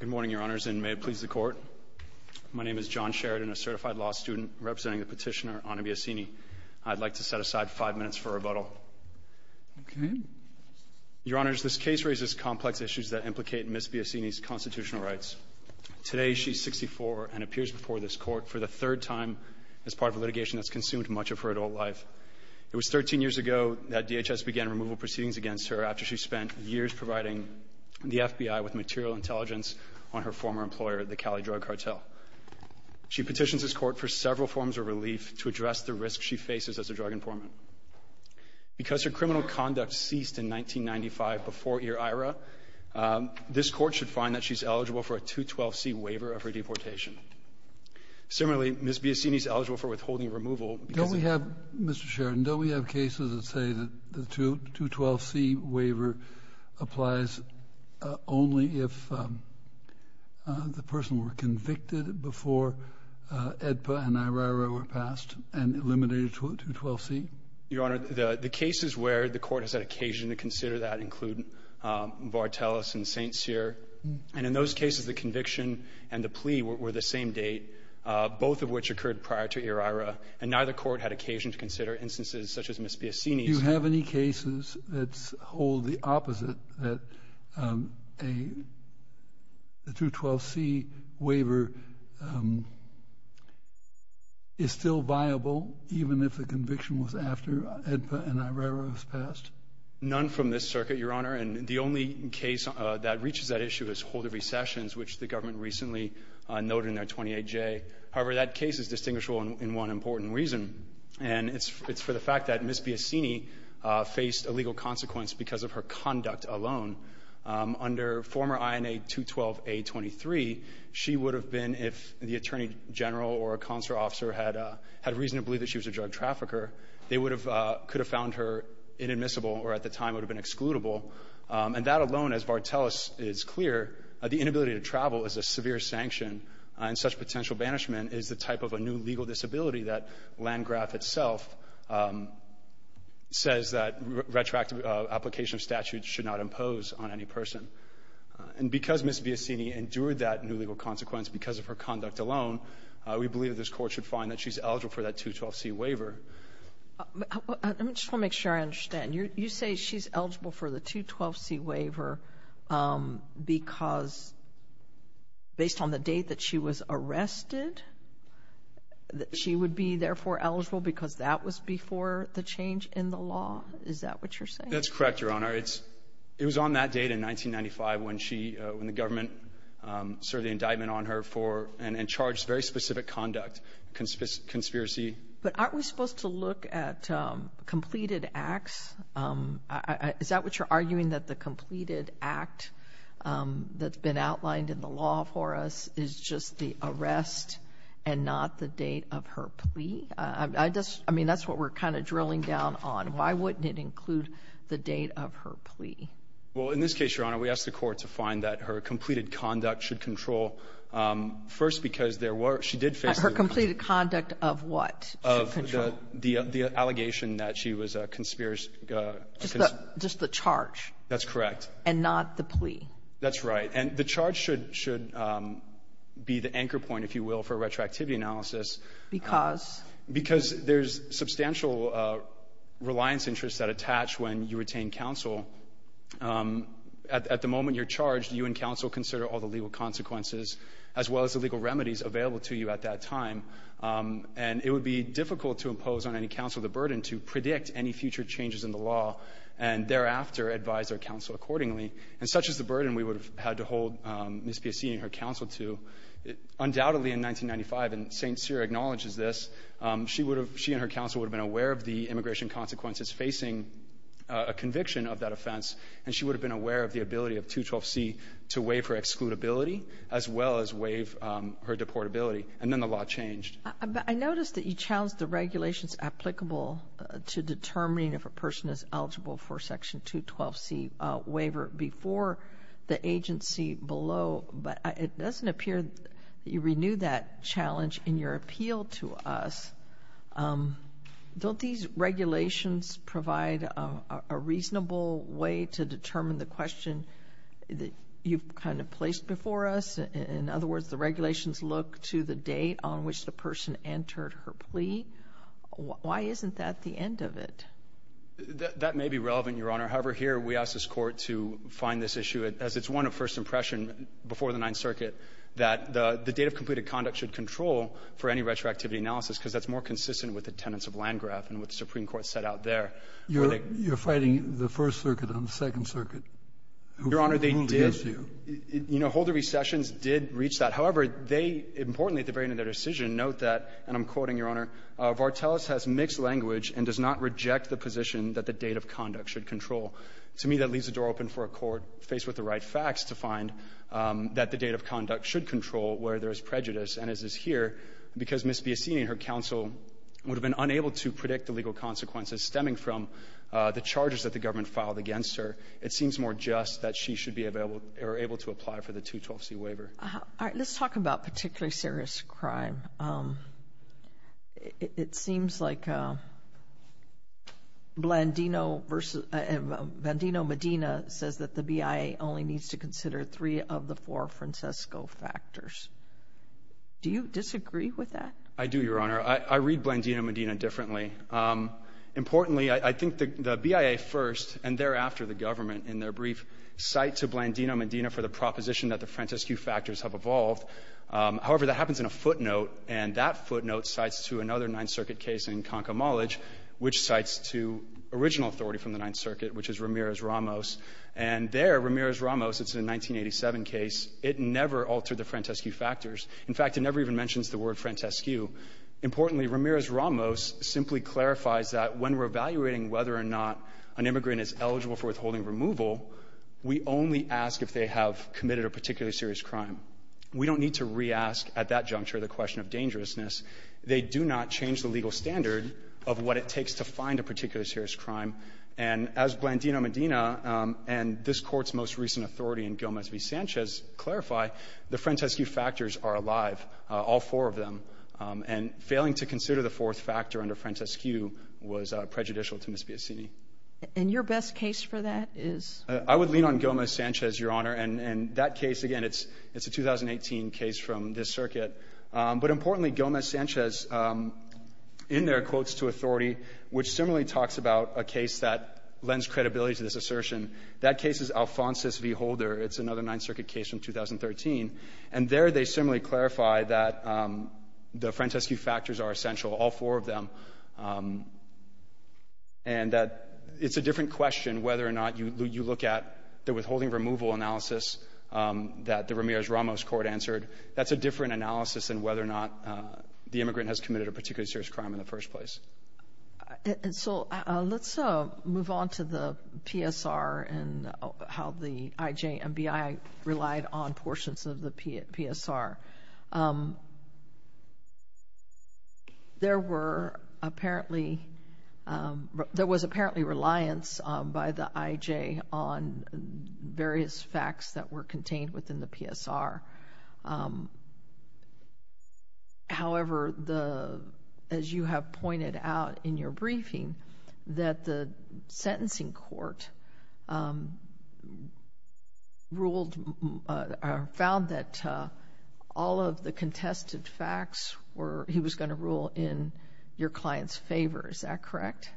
Good morning, Your Honors, and may it please the Court. My name is John Sheridan, a certified law student representing the petitioner Ana Biocini. I'd like to set aside five minutes for rebuttal. Your Honors, this case raises complex issues that implicate Ms. Biocini's constitutional rights. Today, she's 64 and appears before this Court for the third time as part of a litigation that's consumed much of her adult life. It was 13 years ago that DHS began removal proceedings against her after she spent years providing the FBI with material intelligence on her former employer, the Cali Drug Cartel. She petitions this Court for several forms of relief to address the risk she faces as a drug informant. Because her criminal conduct ceased in 1995 before Ira, this Court should find that she's eligible for a 212C waiver of her deportation. Similarly, Ms. Biocini's eligible for withholding removal because of — Mr. Sheridan, don't we have cases that say that the 212C waiver applies only if the person were convicted before AEDPA and IRA were passed and eliminated to a 212C? Your Honor, the cases where the Court has had occasion to consider that include Vartelis and St. Cyr. And in those cases, the conviction and the plea were the same date, both of which occurred prior to Ira. And neither court had occasion to consider instances such as Ms. Biocini's. Do you have any cases that hold the opposite, that a — the 212C waiver is still viable even if the conviction was after AEDPA and IRA was passed? None from this circuit, Your Honor. And the only case that reaches that issue is Holder v. Sessions, which the government recently noted in their 28J. However, that case is distinguishable in one important reason, and it's for the fact that Ms. Biocini faced a legal consequence because of her conduct alone. Under former INA 212A23, she would have been, if the attorney general or a consular officer had — had reason to believe that she was a drug trafficker, they would have — could have found her inadmissible or at the time would have been excludable. And that alone, as Vartelis is clear, the inability to travel is a severe sanction, and such potential banishment is the type of a new legal disability that Landgraf itself says that retroactive application of statutes should not impose on any person. And because Ms. Biocini endured that new legal consequence because of her conduct alone, we believe this Court should find that she's eligible for that 212C waiver. Let me just want to make sure I understand. You say she's eligible for the 212C waiver because — based on the date that she was arrested, that she would be therefore eligible because that was before the change in the law? Is that what you're saying? That's correct, Your Honor. It's — it was on that date in 1995 when she — when the government served the indictment on her for — and charged very specific conduct, conspiracy. But aren't we supposed to look at completed acts? Is that what you're arguing, that the completed act that's been outlined in the law for us is just the arrest and not the date of her plea? I just — I mean, that's what we're kind of drilling down on. Why wouldn't it include the date of her plea? Well, in this case, Your Honor, we ask the Court to find that her completed conduct should control, first, because there were — she did face the — Her completed conduct of what? Of the — the allegation that she was a conspiracy — Just the — just the charge. That's correct. And not the plea. That's right. And the charge should — should be the anchor point, if you will, for retroactivity analysis. Because? Because there's substantial reliance interests that attach when you retain counsel. At the moment you're charged, you and counsel consider all the legal consequences as well as the legal remedies available to you at that time. And it would be difficult to impose on any counsel the burden to predict any future changes in the law and thereafter advise their counsel accordingly. And such is the burden we would have had to hold Ms. Piazzini and her counsel to. Undoubtedly, in 1995, and St. Cyr acknowledges this, she would have — she and her counsel would have been aware of the immigration consequences facing a conviction of that offense, and she would have been aware of the ability of 212C to waive her excludability as well as waive her deportability. And then the law changed. I noticed that you challenged the regulations applicable to determining if a person is eligible for a Section 212C waiver before the agency below. But it doesn't appear that you renewed that challenge in your appeal to us. Don't these regulations provide a reasonable way to determine the question that you've kind of placed before us? In other words, the regulations look to the date on which the person entered her plea. Why isn't that the end of it? That may be relevant, Your Honor. However, here we ask this Court to find this issue, as it's one of first impression before the Ninth Circuit, that the date of completed conduct should control for any retroactivity analysis, because that's more consistent with the tenets of Landgraf and what the Supreme Court set out there. You're fighting the First Circuit on the Second Circuit. Your Honor, they did — Who gives you? You know, Holder v. Sessions did reach that. However, they, importantly, at the very end of their decision, note that, and I'm quoting, Your Honor, Vartelis has mixed language and does not reject the position that the date of conduct should control. To me, that leaves the door open for a Court faced with the right facts to find that the date of conduct should control where there is prejudice, and as is here, because Ms. Biassini and her counsel would have been unable to predict the legal consequences stemming from the charges that the government filed against her, it seems more just that she should be able to apply for the 212C waiver. All right. Let's talk about particularly serious crime. It seems like Blandino Medina says that the BIA only needs to consider three of the four Francesco factors. Do you disagree with that? I do, Your Honor. I read Blandino Medina differently. Importantly, I think the BIA first, and thereafter the government, in their brief cite to Blandino Medina for the proposition that the Francesco factors have evolved. However, that happens in a footnote, and that footnote cites to another Ninth Circuit case in Concomolage, which cites to original authority from the Ninth Circuit, which is Ramirez-Ramos. And there, Ramirez-Ramos, it's a 1987 case. It never altered the Francesco factors. In fact, it never even mentions the word Francesco. Importantly, Ramirez-Ramos simply clarifies that when we're evaluating whether or not an immigrant is eligible for withholding removal, we only ask if they have committed a particularly serious crime. We don't need to re-ask at that juncture the question of dangerousness. They do not change the legal standard of what it takes to find a particularly serious crime. And as Blandino Medina and this Court's most recent authority in Gomez v. Sanchez clarify, the Francesco factors are alive, all four of them. And failing to consider the fourth factor under Francesco was prejudicial to Ms. Biasini. And your best case for that is? I would lean on Gomez-Sanchez, Your Honor. And that case, again, it's a 2018 case from this circuit. But importantly, Gomez-Sanchez, in their quotes to authority, which similarly talks about a case that lends credibility to this assertion, that case is Alfonso v. Holder. It's another Ninth Circuit case from 2013. And there they similarly clarify that the Francesco factors are essential, all four of them, and that it's a different question whether or not you look at the withholding removal analysis that the Ramirez-Ramos court answered. That's a different analysis than whether or not the immigrant has committed a particularly serious crime in the first place. And so let's move on to the PSR and how the IJ and BI relied on portions of the PSR. There were apparently, there was apparently reliance by the IJ on various facts that were contained within the PSR. However, the, as you have pointed out in your briefing, that the sentencing court ruled or found that all of the contested facts were, he was going to rule in your client's favor. Is that correct?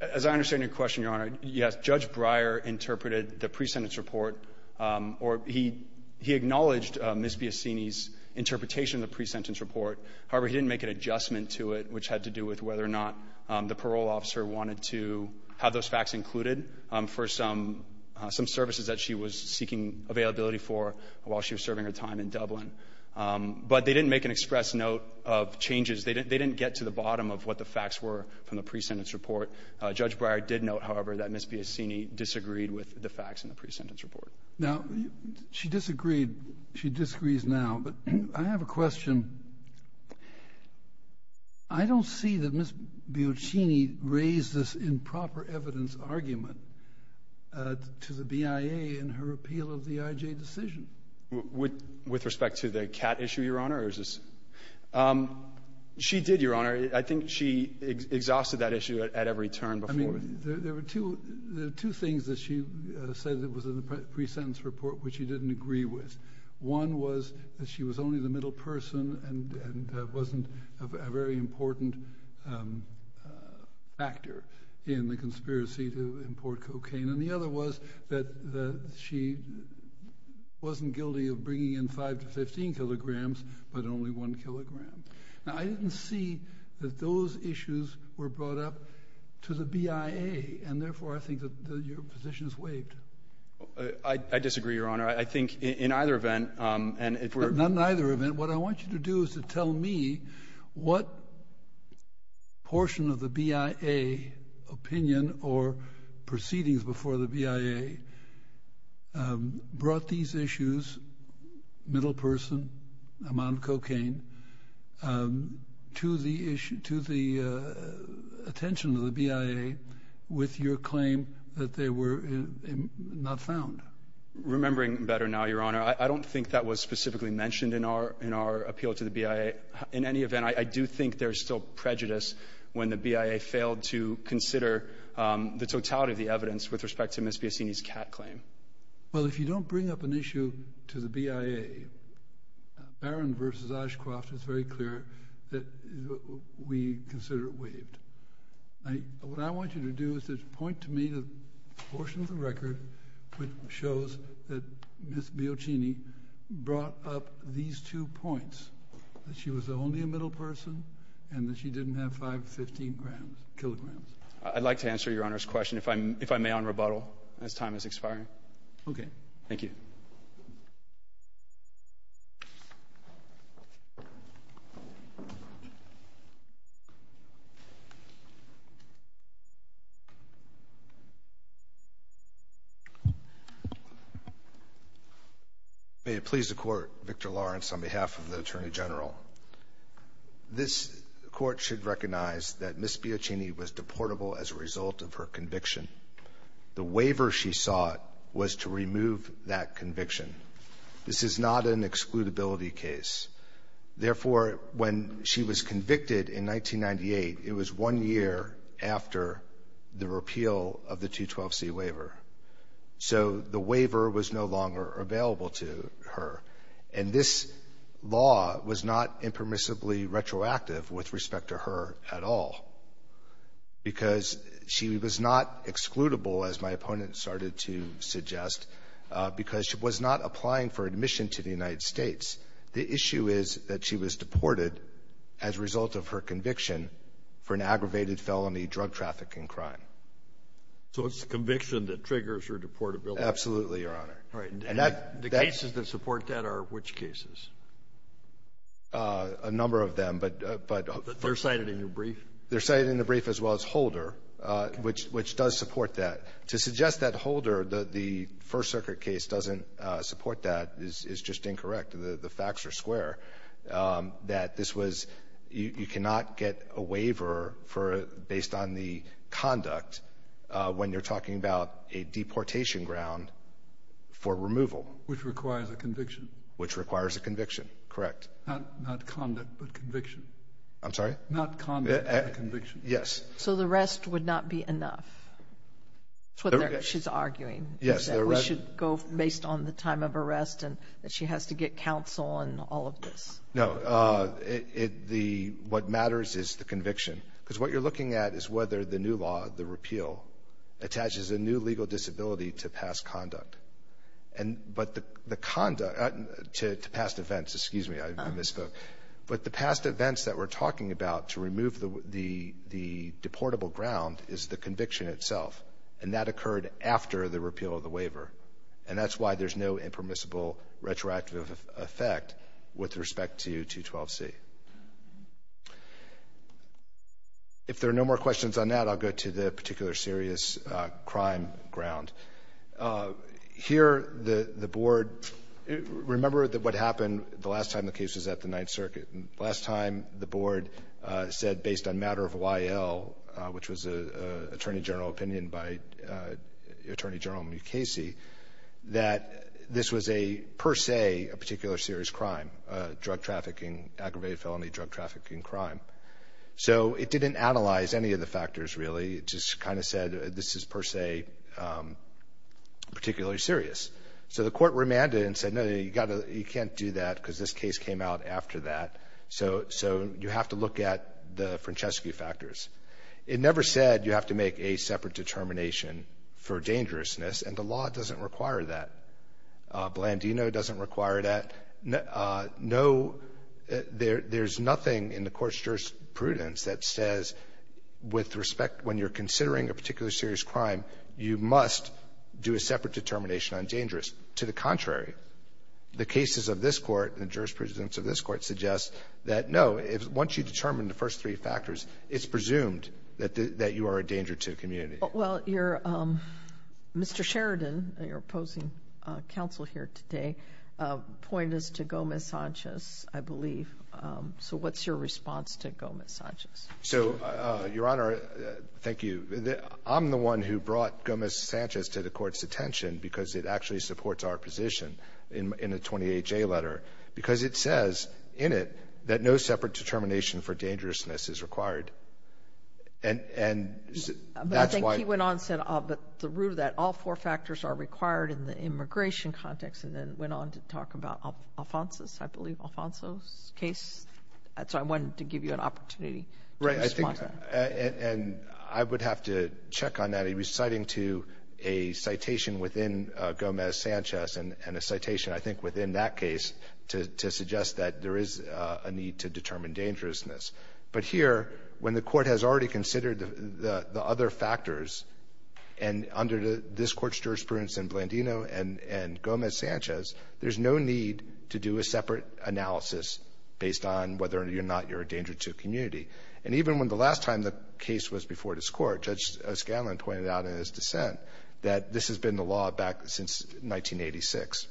As I understand your question, Your Honor, yes, Judge Breyer interpreted the pre-sentence report, or he acknowledged Ms. Biasini's interpretation of the pre-sentence report. However, he didn't make an adjustment to it which had to do with whether or not the parole officer wanted to have those facts included for some services that she was seeking availability for while she was serving her time in Dublin. But they didn't make an express note of changes. They didn't get to the bottom of what the facts were from the pre-sentence report. Judge Breyer did note, however, that Ms. Biasini disagreed with the facts in the pre-sentence report. Now, she disagreed, she disagrees now, but I have a question. I don't see that Ms. Biasini raised this improper evidence argument to the BIA in her appeal of the IJ decision. With respect to the CAT issue, Your Honor, or is this? She did, Your Honor. I think she exhausted that issue at every turn before. I mean, there were two things that she said that was in the pre-sentence report which she didn't agree with. One was that she was only the middle person and wasn't a very important factor in the conspiracy to import cocaine. And the other was that she wasn't guilty of bringing in 5 to 15 kilograms, but only one kilogram. Now, I didn't see that those issues were brought up to the BIA, and therefore, I think that your position is waived. I disagree, Your Honor. I think in either event, and if we're... Not in either event. What I want you to do is to tell me what portion of the BIA opinion or proceedings before the BIA to the attention of the BIA with your claim that they were not found. Remembering better now, Your Honor, I don't think that was specifically mentioned in our appeal to the BIA. In any event, I do think there's still prejudice when the BIA failed to consider the totality of the evidence with respect to Ms. Biasini's CAT claim. Well, if you don't bring up an issue to the BIA, Barron v. Oshcroft is very clear that we consider it waived. What I want you to do is to point to me the portion of the record which shows that Ms. Biasini brought up these two points, that she was only a middle person and that she didn't have 5 to 15 kilograms. I'd like to answer Your Honor's question, if I may, on rebuttal, as time is expiring. Okay. Thank you. May it please the Court, Victor Lawrence, on behalf of the Attorney General. This Court should recognize that Ms. Biasini was deportable as a result of her conviction. The waiver she sought was to remove that conviction. This is not an excludability case. Therefore, when she was convicted in 1998, it was one year after the repeal of the 212C waiver. So, the waiver was no longer available to her. And this law was not impermissibly retroactive with respect to her at all, because she was not excludable, as my opponent started to suggest, because she was not applying for admission to the United States. The issue is that she was deported as a result of her conviction for an aggravated felony drug trafficking crime. So it's the conviction that triggers her deportability? Absolutely, Your Honor. Right. And the cases that support that are which cases? A number of them, but they're cited in your brief. They're cited in the brief, as well as Holder, which does support that. To suggest that Holder, the First Circuit case, doesn't support that is just incorrect. The facts are square, that this was you cannot get a waiver based on the conduct when you're talking about a deportation ground for removal. Which requires a conviction. Which requires a conviction, correct. Not conduct, but conviction. I'm sorry? Not conduct, but conviction. Yes. So, the rest would not be enough, whether she's arguing that we should go based on the time of arrest and that she has to get counsel and all of this? No, what matters is the conviction, because what you're looking at is whether the new law, the repeal, attaches a new legal disability to past conduct. And, but the conduct, to past events, excuse me, I misspoke. But the past events that we're talking about to remove the deportable ground is the conviction itself. And that occurred after the repeal of the waiver. And that's why there's no impermissible retroactive effect with respect to 212C. If there are no more questions on that, I'll go to the particular serious crime ground. Here, the Board, remember that what happened the last time the case was at the Ninth Circuit. Last time, the Board said, based on matter of YL, which was an Attorney General opinion by Attorney General Mukasey, that this was a, per se, a particular serious crime, a drug trafficking, aggravated felony drug trafficking crime. So it didn't analyze any of the factors, really. It just kind of said, this is, per se, particularly serious. So the court remanded and said, no, you can't do that, because this case came out after that. So you have to look at the Francescu factors. It never said you have to make a separate determination for dangerousness, and the law doesn't require that. Blandino doesn't require that. No, there's nothing in the Court's jurisprudence that says, with respect, when you're considering a particular serious crime, you must do a separate determination on dangerous. To the contrary, the cases of this Court and the jurisprudence of this Court suggest that, no, once you determine the first three factors, it's presumed that you are a danger to the community. Well, you're, Mr. Sheridan, your opposing counsel here today, pointed us to Gomez-Sanchez, I believe. So what's your response to Gomez-Sanchez? So, Your Honor, thank you. I'm the one who brought Gomez-Sanchez to the Court's attention, because it actually supports our position in the 28-J letter, because it says in it that no separate determination for dangerousness is required. And that's why... But I think he went on and said, but the root of that, all four factors are required in the immigration context, and then went on to talk about Alfonso's, I believe, Alfonso's case. That's why I wanted to give you an opportunity to respond to that. Right. And I would have to check on that. He was citing to a citation within Gomez-Sanchez and a citation, I think, within that case to suggest that there is a need to determine dangerousness. But here, when the Court has already considered the other factors, and under this Court's jurisprudence in Blandino and Gomez-Sanchez, there's no need to do a separate analysis based on whether or not you're a danger to a community. And even when the last time the case was before this Court, Judge Scanlon pointed out in his dissent that this has been the law back since 1986,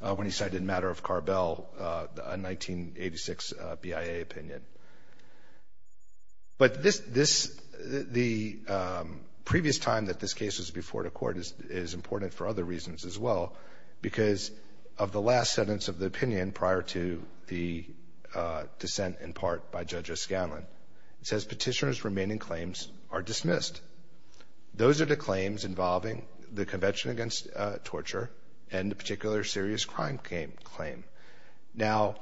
when he cited a matter of opinion. But this, the previous time that this case was before the Court is important for other reasons as well, because of the last sentence of the opinion prior to the dissent, in part, by Judge Scanlon. It says, Petitioner's remaining claims are dismissed. Those are the claims involving the Convention Against Torture and the particular serious crime claim. Now,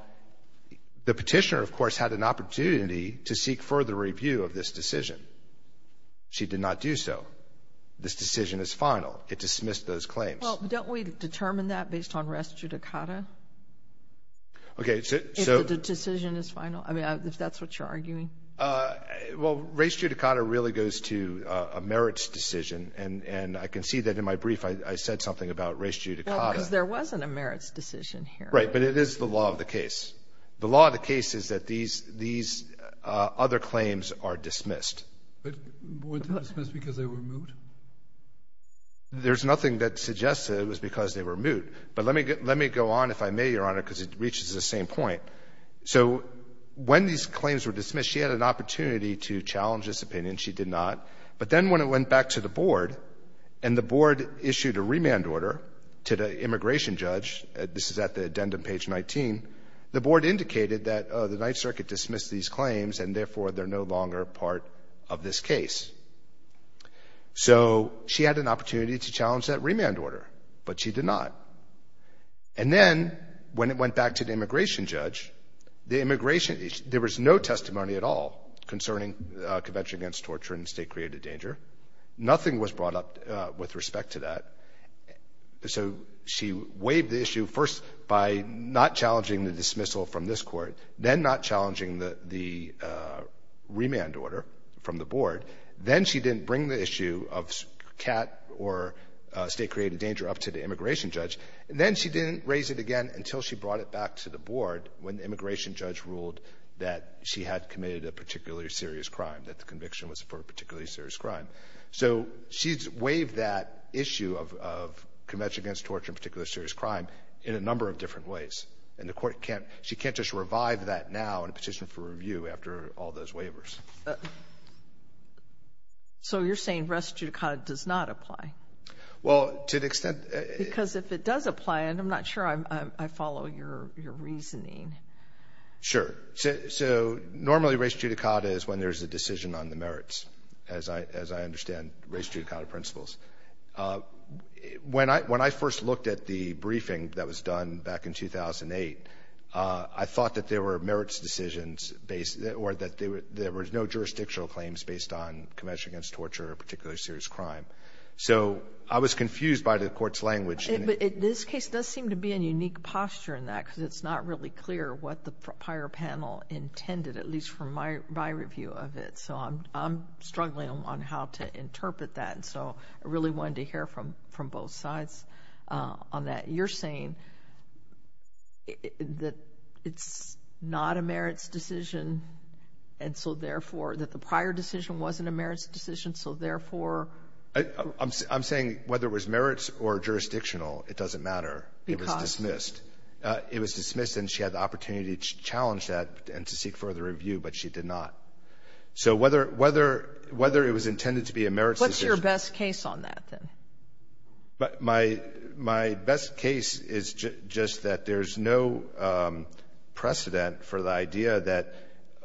the petitioner, of course, had an opportunity to seek further review of this decision. She did not do so. This decision is final. It dismissed those claims. Well, don't we determine that based on res judicata? Okay, so... If the decision is final? I mean, if that's what you're arguing? Well, res judicata really goes to a merits decision. And I can see that in my brief, I said something about res judicata. Well, because there wasn't a merits decision here. Right, but it is the law of the case. The law of the case is that these other claims are dismissed. But weren't they dismissed because they were moot? There's nothing that suggests that it was because they were moot. But let me go on, if I may, Your Honor, because it reaches the same point. So when these claims were dismissed, she had an opportunity to challenge this opinion. She did not. But then when it went back to the Board, and the Board issued a remand order to the addendum page 19, the Board indicated that the Ninth Circuit dismissed these claims, and therefore they're no longer part of this case. So she had an opportunity to challenge that remand order, but she did not. And then when it went back to the immigration judge, there was no testimony at all concerning Convention Against Torture and State-Created Danger. Nothing was brought up with respect to that. So she waived the issue first by not challenging the dismissal from this Court, then not challenging the remand order from the Board. Then she didn't bring the issue of CAT or State-Created Danger up to the immigration judge. And then she didn't raise it again until she brought it back to the Board when the immigration judge ruled that she had committed a particularly serious crime, that the conviction was for a particularly serious crime. So she's waived that issue of Convention Against Torture, in particular a serious crime, in a number of different ways. And the Court can't – she can't just revive that now in a petition for review after all those waivers. Sotomayor, so you're saying res judicata does not apply? Well, to the extent that – Because if it does apply, and I'm not sure I'm – I follow your reasoning. Sure. So normally res judicata is when there's a decision on the merits, as I understand res judicata principles. When I first looked at the briefing that was done back in 2008, I thought that there were merits decisions based – or that there were no jurisdictional claims based on Convention Against Torture or a particularly serious crime. So I was confused by the Court's language. But this case does seem to be in unique posture in that, because it's not really clear what the prior panel intended, at least from my review of it. So I'm struggling on how to interpret that. And so I really wanted to hear from both sides on that. You're saying that it's not a merits decision, and so therefore – that the prior decision wasn't a merits decision, so therefore – I'm saying whether it was merits or jurisdictional, it doesn't matter. Because? It was dismissed. It was dismissed, and she had the opportunity to challenge that and to seek further review, but she did not. So whether it was intended to be a merits decision – What's your best case on that, then? My best case is just that there's no precedent for the idea that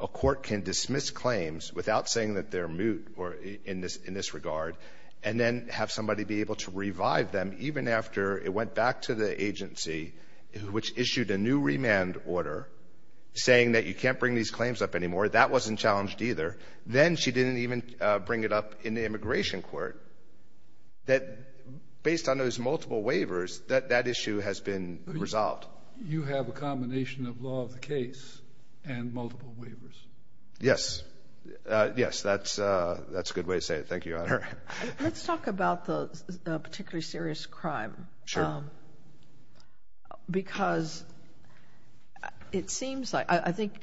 a court can dismiss claims without saying that they're moot or in this regard and then have somebody be able to revive them even after it went back to the agency, which issued a new remand order saying that you can't bring these claims up anymore. That wasn't challenged either. Then she didn't even bring it up in the immigration court that, based on those multiple waivers, that issue has been resolved. You have a combination of law of the case and multiple waivers. Yes. Thank you, Your Honor. Let's talk about the particularly serious crime. Sure. Because it seems like – I think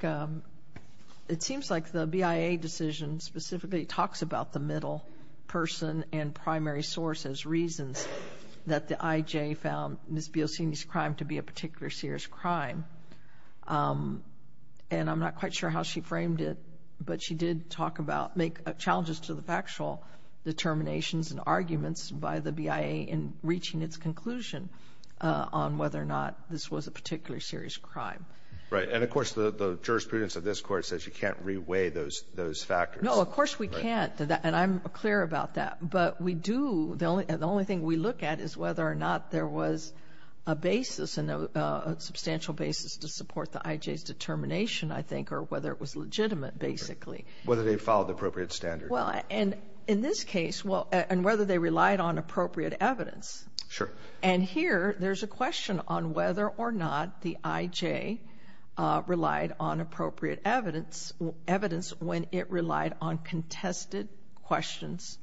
it seems like the BIA decision specifically talks about the middle person and primary source as reasons that the IJ found Ms. Biossini's crime to be a particularly serious crime. And I'm not quite sure how she framed it, but she did talk about – make challenges to the factual. Determinations and arguments by the BIA in reaching its conclusion on whether or not this was a particularly serious crime. Right. And, of course, the jurisprudence of this Court says you can't reweigh those factors. No, of course we can't. And I'm clear about that. But we do – the only thing we look at is whether or not there was a basis, a substantial basis to support the IJ's determination, I think, or whether it was legitimate, basically. Whether they followed the appropriate standards. Well, and in this case – and whether they relied on appropriate evidence. Sure. And here there's a question on whether or not the IJ relied on appropriate evidence when it relied on contested questions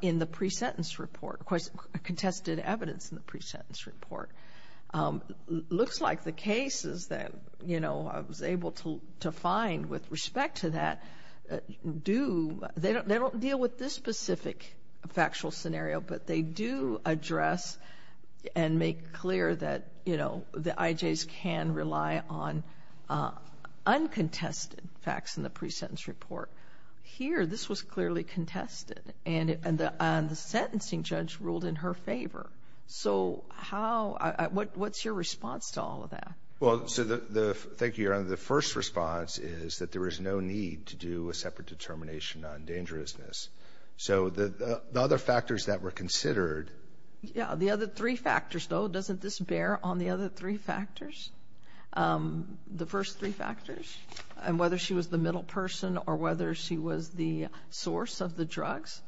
in the pre-sentence report – contested evidence in the pre-sentence report. Looks like the cases that, you know, I was able to find with respect to that do – they don't deal with this specific factual scenario, but they do address and make clear that, you know, the IJs can rely on uncontested facts in the pre-sentence report. Here this was clearly contested, and the sentencing judge ruled in her favor. So how – what's your response to all of that? Well, so the – thank you, Your Honor. The first response is that there is no need to do a separate determination on dangerousness. So the other factors that were considered – Yeah, the other three factors, though. Doesn't this bear on the other three factors? The first three factors? And whether she was the middle person or whether she was the source of the drugs?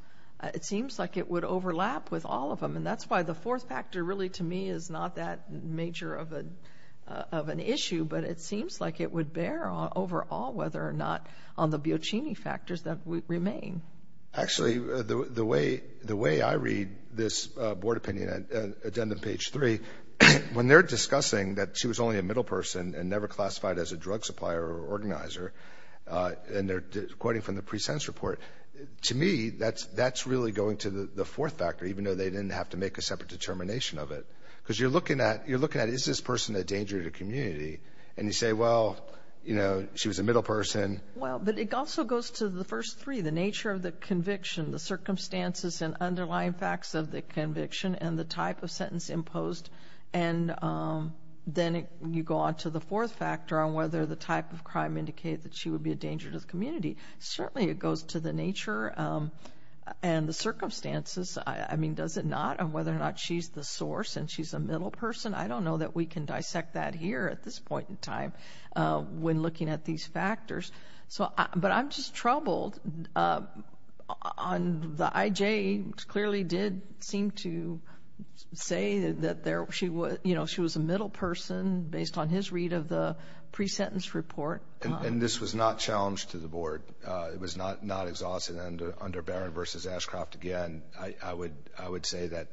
It seems like it would overlap with all of them, and that's why the fourth factor really, to me, is not that major of an issue, but it seems like it would bear overall, whether or not on the Biocini factors that remain. Actually, the way I read this board opinion, addendum page 3, when they're discussing that she was only a middle person and never classified as a drug supplier or organizer, and they're quoting from the pre-sentence report, to me that's really going to the fourth factor, even though they didn't have to make a separate determination of it. Because you're looking at, is this person a danger to the community? And you say, well, you know, she was a middle person. Well, but it also goes to the first three, the nature of the conviction, the circumstances and underlying facts of the conviction, and the type of sentence imposed. And then you go on to the fourth factor on whether the type of crime indicated that she would be a danger to the community. Certainly it goes to the nature and the circumstances. I mean, does it not on whether or not she's the source and she's a middle person? I don't know that we can dissect that here at this point in time when looking at these factors. But I'm just troubled. The IJ clearly did seem to say that she was a middle person based on his read of the pre-sentence report. And this was not challenged to the board. It was not exhausted. And under Barron v. Ashcroft, again, I would say that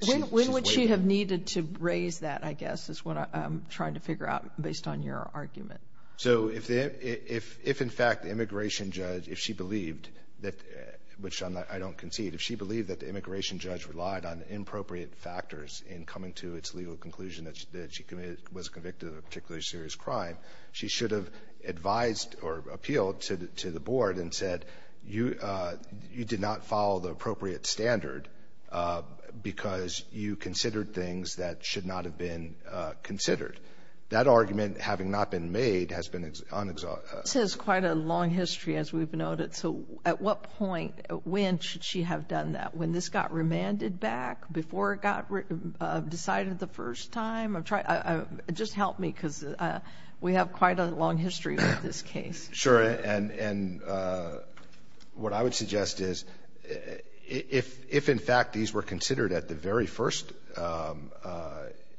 she's legal. When would she have needed to raise that, I guess, is what I'm trying to figure out based on your argument. So if in fact the immigration judge, if she believed, which I don't concede, if she believed that the immigration judge relied on inappropriate factors in coming to its legal conclusion that she was convicted of a particularly serious crime, she should have advised or appealed to the board and said, you did not follow the appropriate standard because you considered things that should not have been considered. That argument, having not been made, has been unex— This has quite a long history, as we've noted. So at what point, when should she have done that? When this got remanded back, before it got decided the first time? Just help me because we have quite a long history with this case. Sure. And what I would suggest is if in fact these were considered at the very first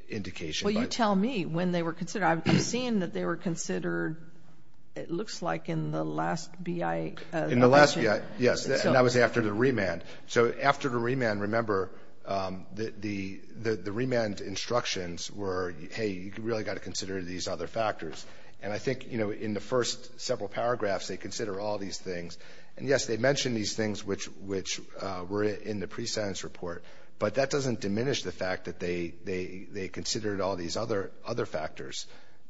indication. Well, you tell me when they were considered. I'm seeing that they were considered, it looks like, in the last BIA. In the last BIA, yes. And that was after the remand. So after the remand, remember, the remand instructions were, hey, you've really got to consider these other factors. And I think, you know, in the first several paragraphs, they consider all these things. And, yes, they mention these things, which were in the prescience report. But that doesn't diminish the fact that they considered all these other factors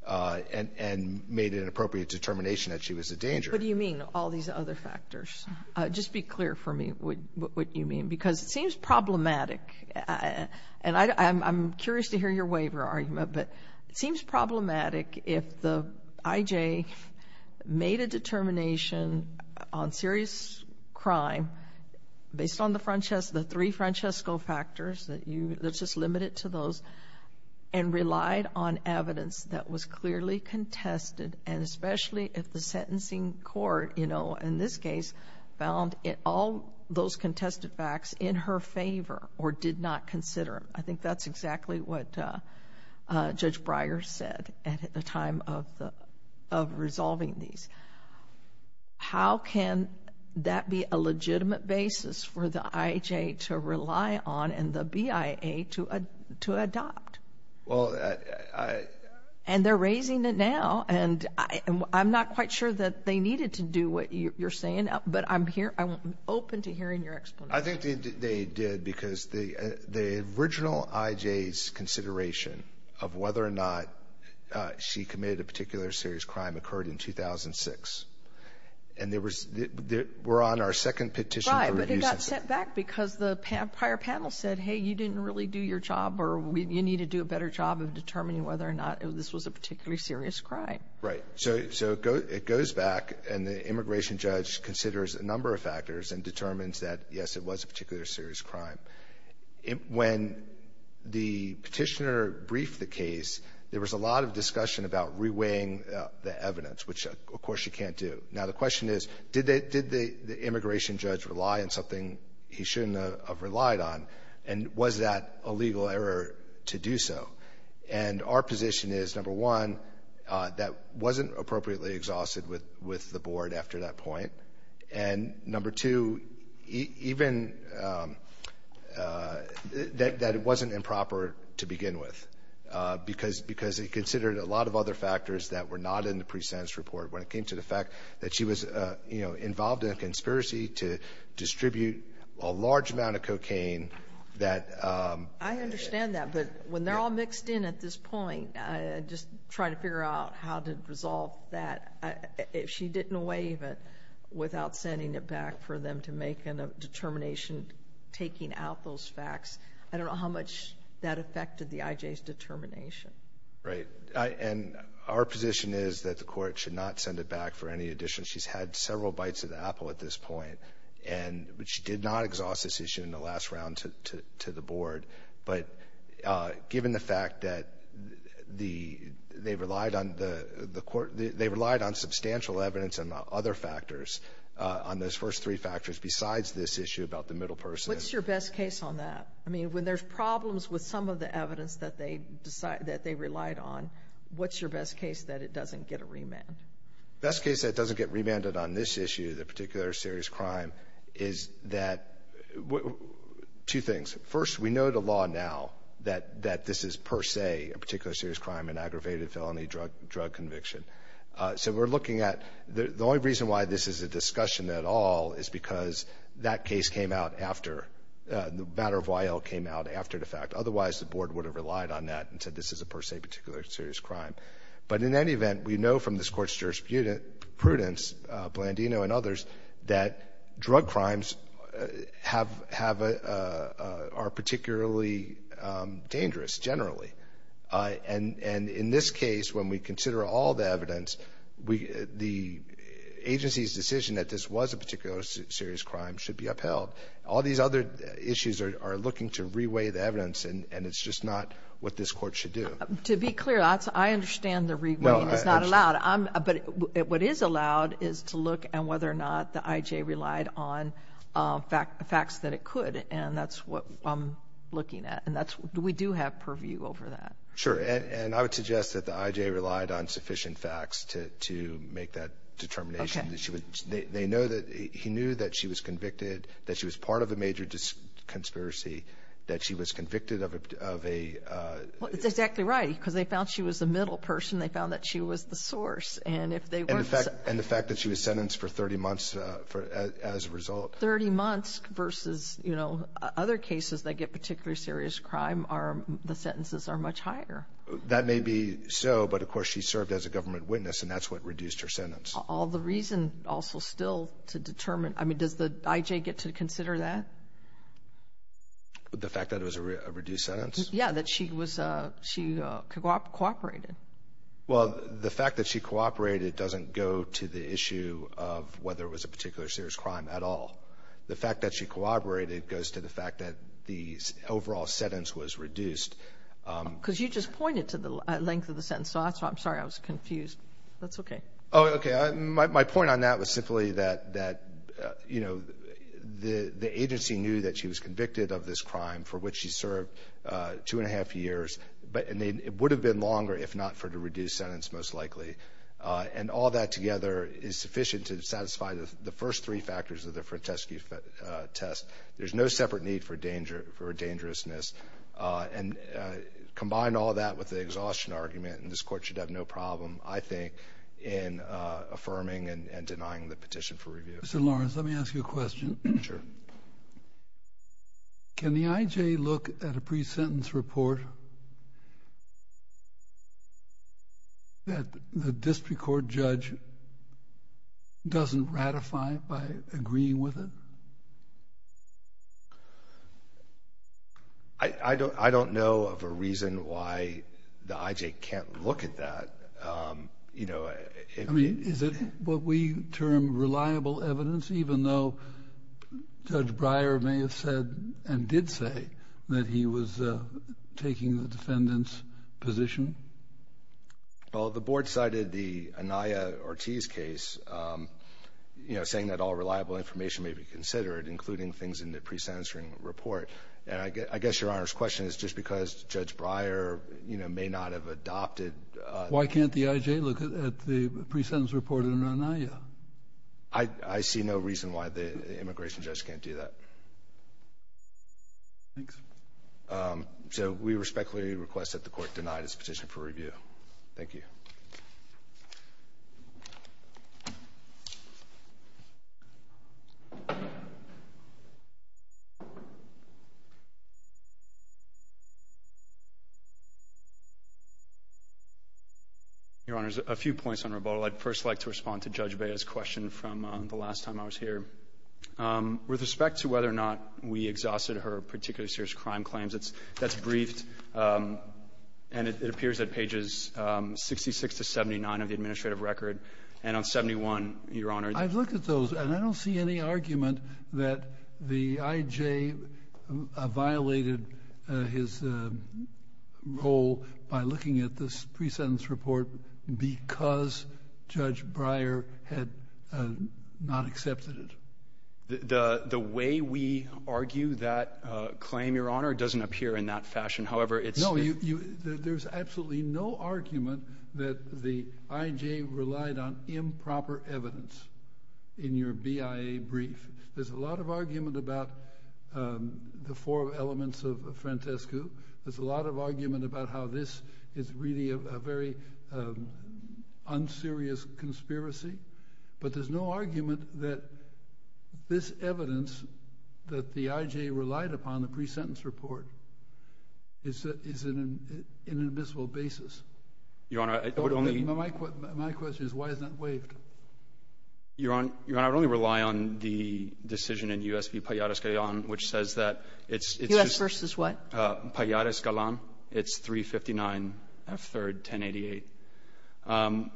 and made an appropriate determination that she was a danger. What do you mean, all these other factors? Just be clear for me what you mean. Because it seems problematic, and I'm curious to hear your waiver argument, but it seems problematic if the IJ made a determination on serious crime based on the three Francesco factors that's just limited to those and relied on evidence that was clearly contested and especially if the sentencing court, you know, in this case, found all those contested facts in her favor or did not consider them. I think that's exactly what Judge Breyer said at the time of resolving these. How can that be a legitimate basis for the IJ to rely on and the BIA to adopt? Well, I... And they're raising it now. And I'm not quite sure that they needed to do what you're saying, but I'm open to hearing your explanation. I think they did because the original IJ's consideration of whether or not she committed a particular serious crime occurred in 2006. And there was... we're on our second petition... Right, but it got sent back because the prior panel said, hey, you didn't really do your job or you need to do a better job of determining whether or not this was a particularly serious crime. Right. So it goes back, and the immigration judge considers a number of factors and determines that, yes, it was a particular serious crime. When the petitioner briefed the case, there was a lot of discussion about reweighing the evidence, which, of course, you can't do. Now, the question is, did the immigration judge rely on something he shouldn't have relied on? And was that a legal error to do so? And our position is, number one, that wasn't appropriately exhausted with the board after that point. And, number two, even... that it wasn't improper to begin with because he considered a lot of other factors that were not in the pre-sentence report. When it came to the fact that she was, you know, involved in a conspiracy to distribute a large amount of cocaine that... I understand that, but when they're all mixed in at this point, I just try to figure out how to resolve that. If she didn't waive it without sending it back for them to make a determination taking out those facts, I don't know how much that affected the IJ's determination. Right. And our position is that the court should not send it back for any addition. She's had several bites of the apple at this point. And she did not exhaust this issue in the last round to the board. But given the fact that they relied on the court... they relied on substantial evidence and other factors, on those first three factors besides this issue about the middle person... What's your best case on that? I mean, when there's problems with some of the evidence that they relied on, what's your best case that it doesn't get a remand? Best case that it doesn't get remanded on this issue, the particular serious crime, is that... two things. First, we know the law now that this is per se a particular serious crime, an aggravated felony drug conviction. So, we're looking at... the only reason why this is a discussion at all is because that case came out after... the matter of Y.L. came out after the fact. Otherwise, the board would have relied on that and said, this is a per se particular serious crime. But in any event, we know from this court's jurisprudence, Blandino and others, that drug crimes have... are particularly dangerous, generally. And in this case, when we consider all the evidence, the agency's decision that this was a particular serious crime should be upheld. All these other issues are looking to reweigh the evidence and it's just not what this court should do. To be clear, I understand the reweighing is not allowed. But what is allowed is to look at whether or not the I.J. relied on facts that it could. And that's what I'm looking at. And we do have purview over that. Sure. And I would suggest that the I.J. relied on sufficient facts to make that determination. They know that he knew that she was convicted, that she was part of a major conspiracy, that she was convicted of a... Well, that's exactly right. Because they found she was the middle person. They found that she was the source. And the fact that she was sentenced for 30 months as a result. 30 months versus, you know, other cases that get particular serious crime are the sentences are much higher. That may be so. But, of course, she served as a government witness and that's what reduced her sentence. All the reason also still to determine... I mean, does the I.J. get to consider that? The fact that it was a reduced sentence? Yeah, that she was... she cooperated. Well, the fact that she cooperated doesn't go to the issue of whether it was a particular serious crime at all. The fact that she cooperated goes to the fact that the overall sentence was reduced. Because you just pointed to the length of the sentence. I'm sorry, I was confused. That's okay. My point on that was simply that the agency knew that she was convicted of this crime for which she served two and a half years. It would have been longer if not for the reduced sentence, most likely. And all that together is sufficient to satisfy the first three factors of the Franteschi test. There's no separate need for dangerousness. Combine all that with the exhaustion argument and this Court should have no problem, I think, in affirming and denying the petition for review. Mr. Lawrence, let me ask you a question. Sure. Can the I.J. look at a pre-sentence report that the district court judge doesn't ratify by agreeing with it? I don't know of a reason why the I.J. can't look at that. Is it what we term reliable evidence even though Judge Breyer may have said and did say that he was taking the defendant's position? Well, the Board cited the Anaya-Ortiz case saying that all reliable information may be considered including things in the pre-sentencing report. And I guess Your Honor's question is just because Judge Breyer may not have adopted Why can't the I.J. look at the pre-sentence report in Anaya? I see no reason why the immigration judge can't do that. So we respectfully request that the court deny this petition for review. Thank you. Your Honor, a few points on rebuttal. I'd first like to respond to Judge Breyer's question from the last time I was here. With respect to whether or not we exhausted her particularly serious crime claims that's briefed and it appears at pages 66 to 79 of the administrative record and on 71, Your Honor I've looked at those and I don't see any argument that the I.J. violated his role by looking at this pre-sentence report because Judge Breyer had not accepted it. The way we argue that claim, Your Honor, doesn't appear in that fashion however it's No, there's absolutely no argument that the I.J. relied on improper evidence in your BIA brief. There's a lot of argument about the four elements of Frantescu. There's a lot of argument about how this is really a very unserious conspiracy but there's no argument that this evidence that the I.J. relied upon the pre-sentence report is in an invisible basis. My question is why isn't it waived? Your Honor, I would only rely on the decision in U.S. v. Palladio Escalon which says that it's Palladio Escalon it's 359 F. 3rd 1088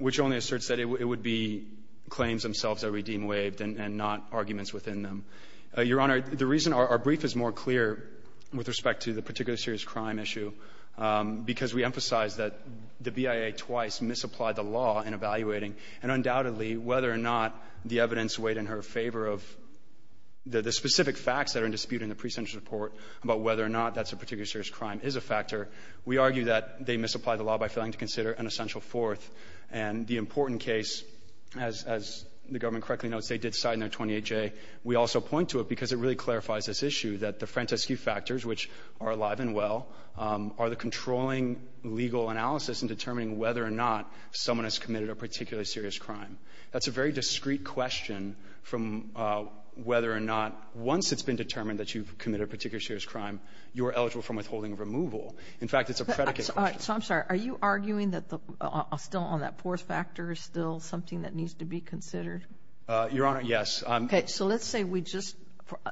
which only asserts that it would be claims themselves that we deem waived and not arguments within them. Your Honor, the reason our brief is more clear with respect to the particular serious crime issue because we emphasize that the BIA twice misapplied the law in evaluating and undoubtedly whether or not the evidence weighed in her favor of the specific facts that are in dispute in the pre-sentence report about whether or not that's a particular serious crime is a factor we argue that they misapplied the law by failing to consider an essential fourth and the important case as the government correctly notes they did sign their 28J. We also point to it because it really clarifies this issue that the Francescu factors which are alive and well are the controlling legal analysis in determining whether or not someone has committed a particular serious crime. That's a very discreet question from whether or not once it's been determined that you've committed a particular serious crime you're eligible for withholding removal. In fact, it's a predicate question. Are you arguing that still on that fourth factor is still something that needs to be considered? Your Honor, yes.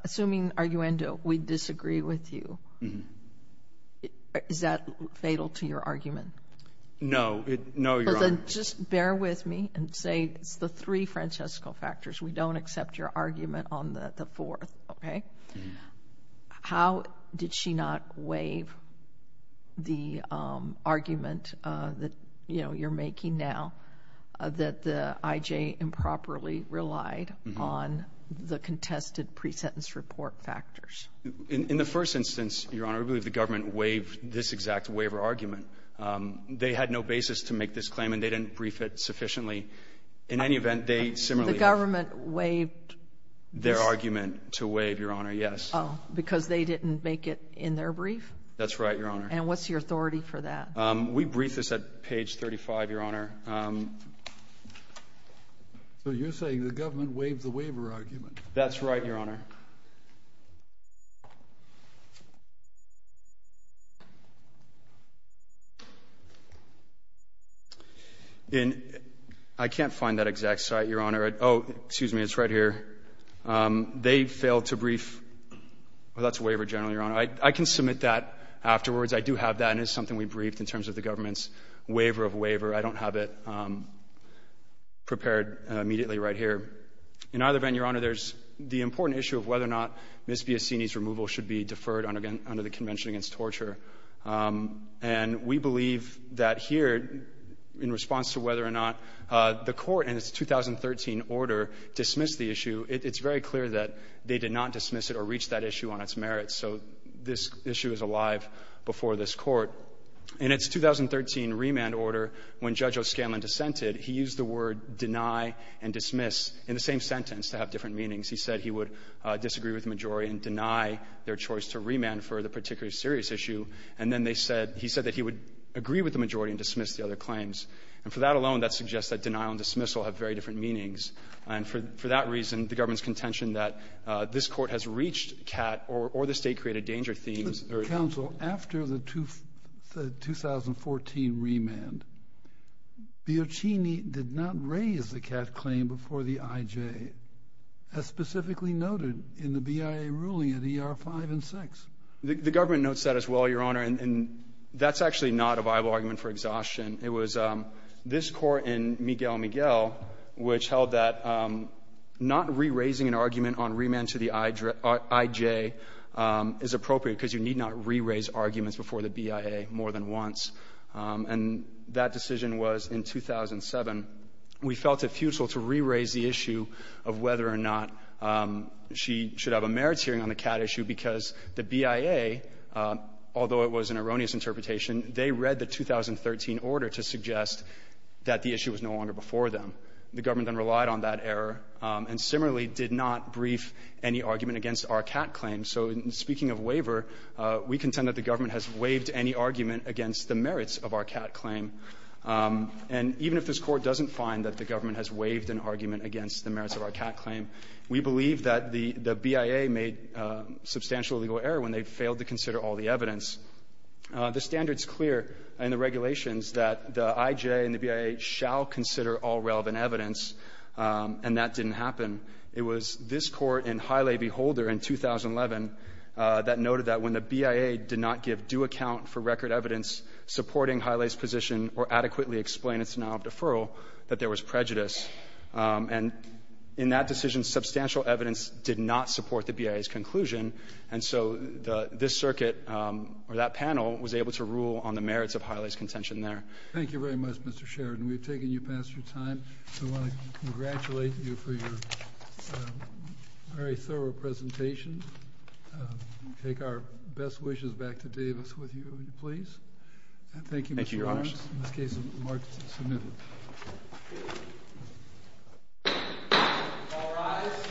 Assuming, Arguendo, we disagree with you, is that fatal to your argument? No, Your Honor. Just bear with me and say it's the three Francescu factors. We don't accept your argument on the fourth. How did she not waive the argument that you're making now that the IJ improperly relied on the contested pre-sentence report factors? In the first instance, Your Honor, I believe the government waived this exact waiver argument. They had no basis to make this claim and they didn't brief it sufficiently. In any event, they similarly waived their argument to waive, Your Honor, yes. Because they didn't make it in their brief? That's right, Your Honor. And what's your authority for that? We briefed this at page 35, Your Honor. So you're saying the government waived the waiver argument? That's right, Your Honor. I can't find that exact site, Your Honor. Oh, excuse me. It's right here. They failed to brief that's waiver general, Your Honor. I can submit that afterwards. I do have that, and it's something we briefed in terms of the government's waiver of waiver. I don't have it prepared immediately right here. In either event, Your Honor, there's the important issue of whether or not Ms. Biasini's removal should be deferred under the Convention Against Torture. And we believe that here, in response to whether or not the Court in its 2013 order dismissed the issue, it's very clear that they did not dismiss it or reach that issue on its merits. So this issue is alive before this Court. In its 2013 remand order, when Judge O'Scanlan dissented, he used the word deny and dismiss in the same sentence to have different meanings. He said he would disagree with the majority and deny their choice to remand for the particular serious issue. And then they said he said that he would agree with the majority and dismiss the other claims. And for that alone, that suggests that deny and dismiss will have very different meanings. And for that reason, the government's reached CAT or the State Created Danger themes. Kennedy. Counsel, after the 2014 remand, Biasini did not raise the CAT claim before the IJ, as specifically noted in the BIA ruling at ER-5 and 6. The government notes that as well, Your Honor, and that's It was this Court in Miguel Miguel which held that not re-raising an argument on remand to the IJ is appropriate because you need not re-raise arguments before the BIA more than once. And that decision was in 2007. We felt it futile to re-raise the issue of whether or not she should have a merits hearing on the CAT issue because the BIA, although it was an erroneous interpretation, they read the 2013 order to suggest that the issue was no longer before them. The government then relied on that error, and similarly did not brief any argument against our CAT claim. So speaking of waiver, we contend that the government has waived any argument against the merits of our CAT claim. And even if this Court doesn't find that the government has waived an argument against the merits of our CAT claim, we believe that the BIA made substantial legal error when they failed to consider all the evidence. The standard's clear in the regulations that the IJ and the BIA shall consider all relevant evidence, and that didn't happen. It was this Court in Hiley v. Holder in 2011 that noted that when the BIA did not give due account for record evidence supporting Hiley's position or adequately explain its denial of deferral, that there was prejudice. And in that decision, substantial evidence did not support the BIA's conclusion, and so this circuit or that panel was able to rule on the merits of Hiley's contention there. Thank you very much, Mr. Sheridan. We've taken you past your time. I want to congratulate you for your very thorough presentation. We take our best wishes back to Davis with you, please. Thank you, Mr. Lawrence. In this case, it's marked as submitted. All rise.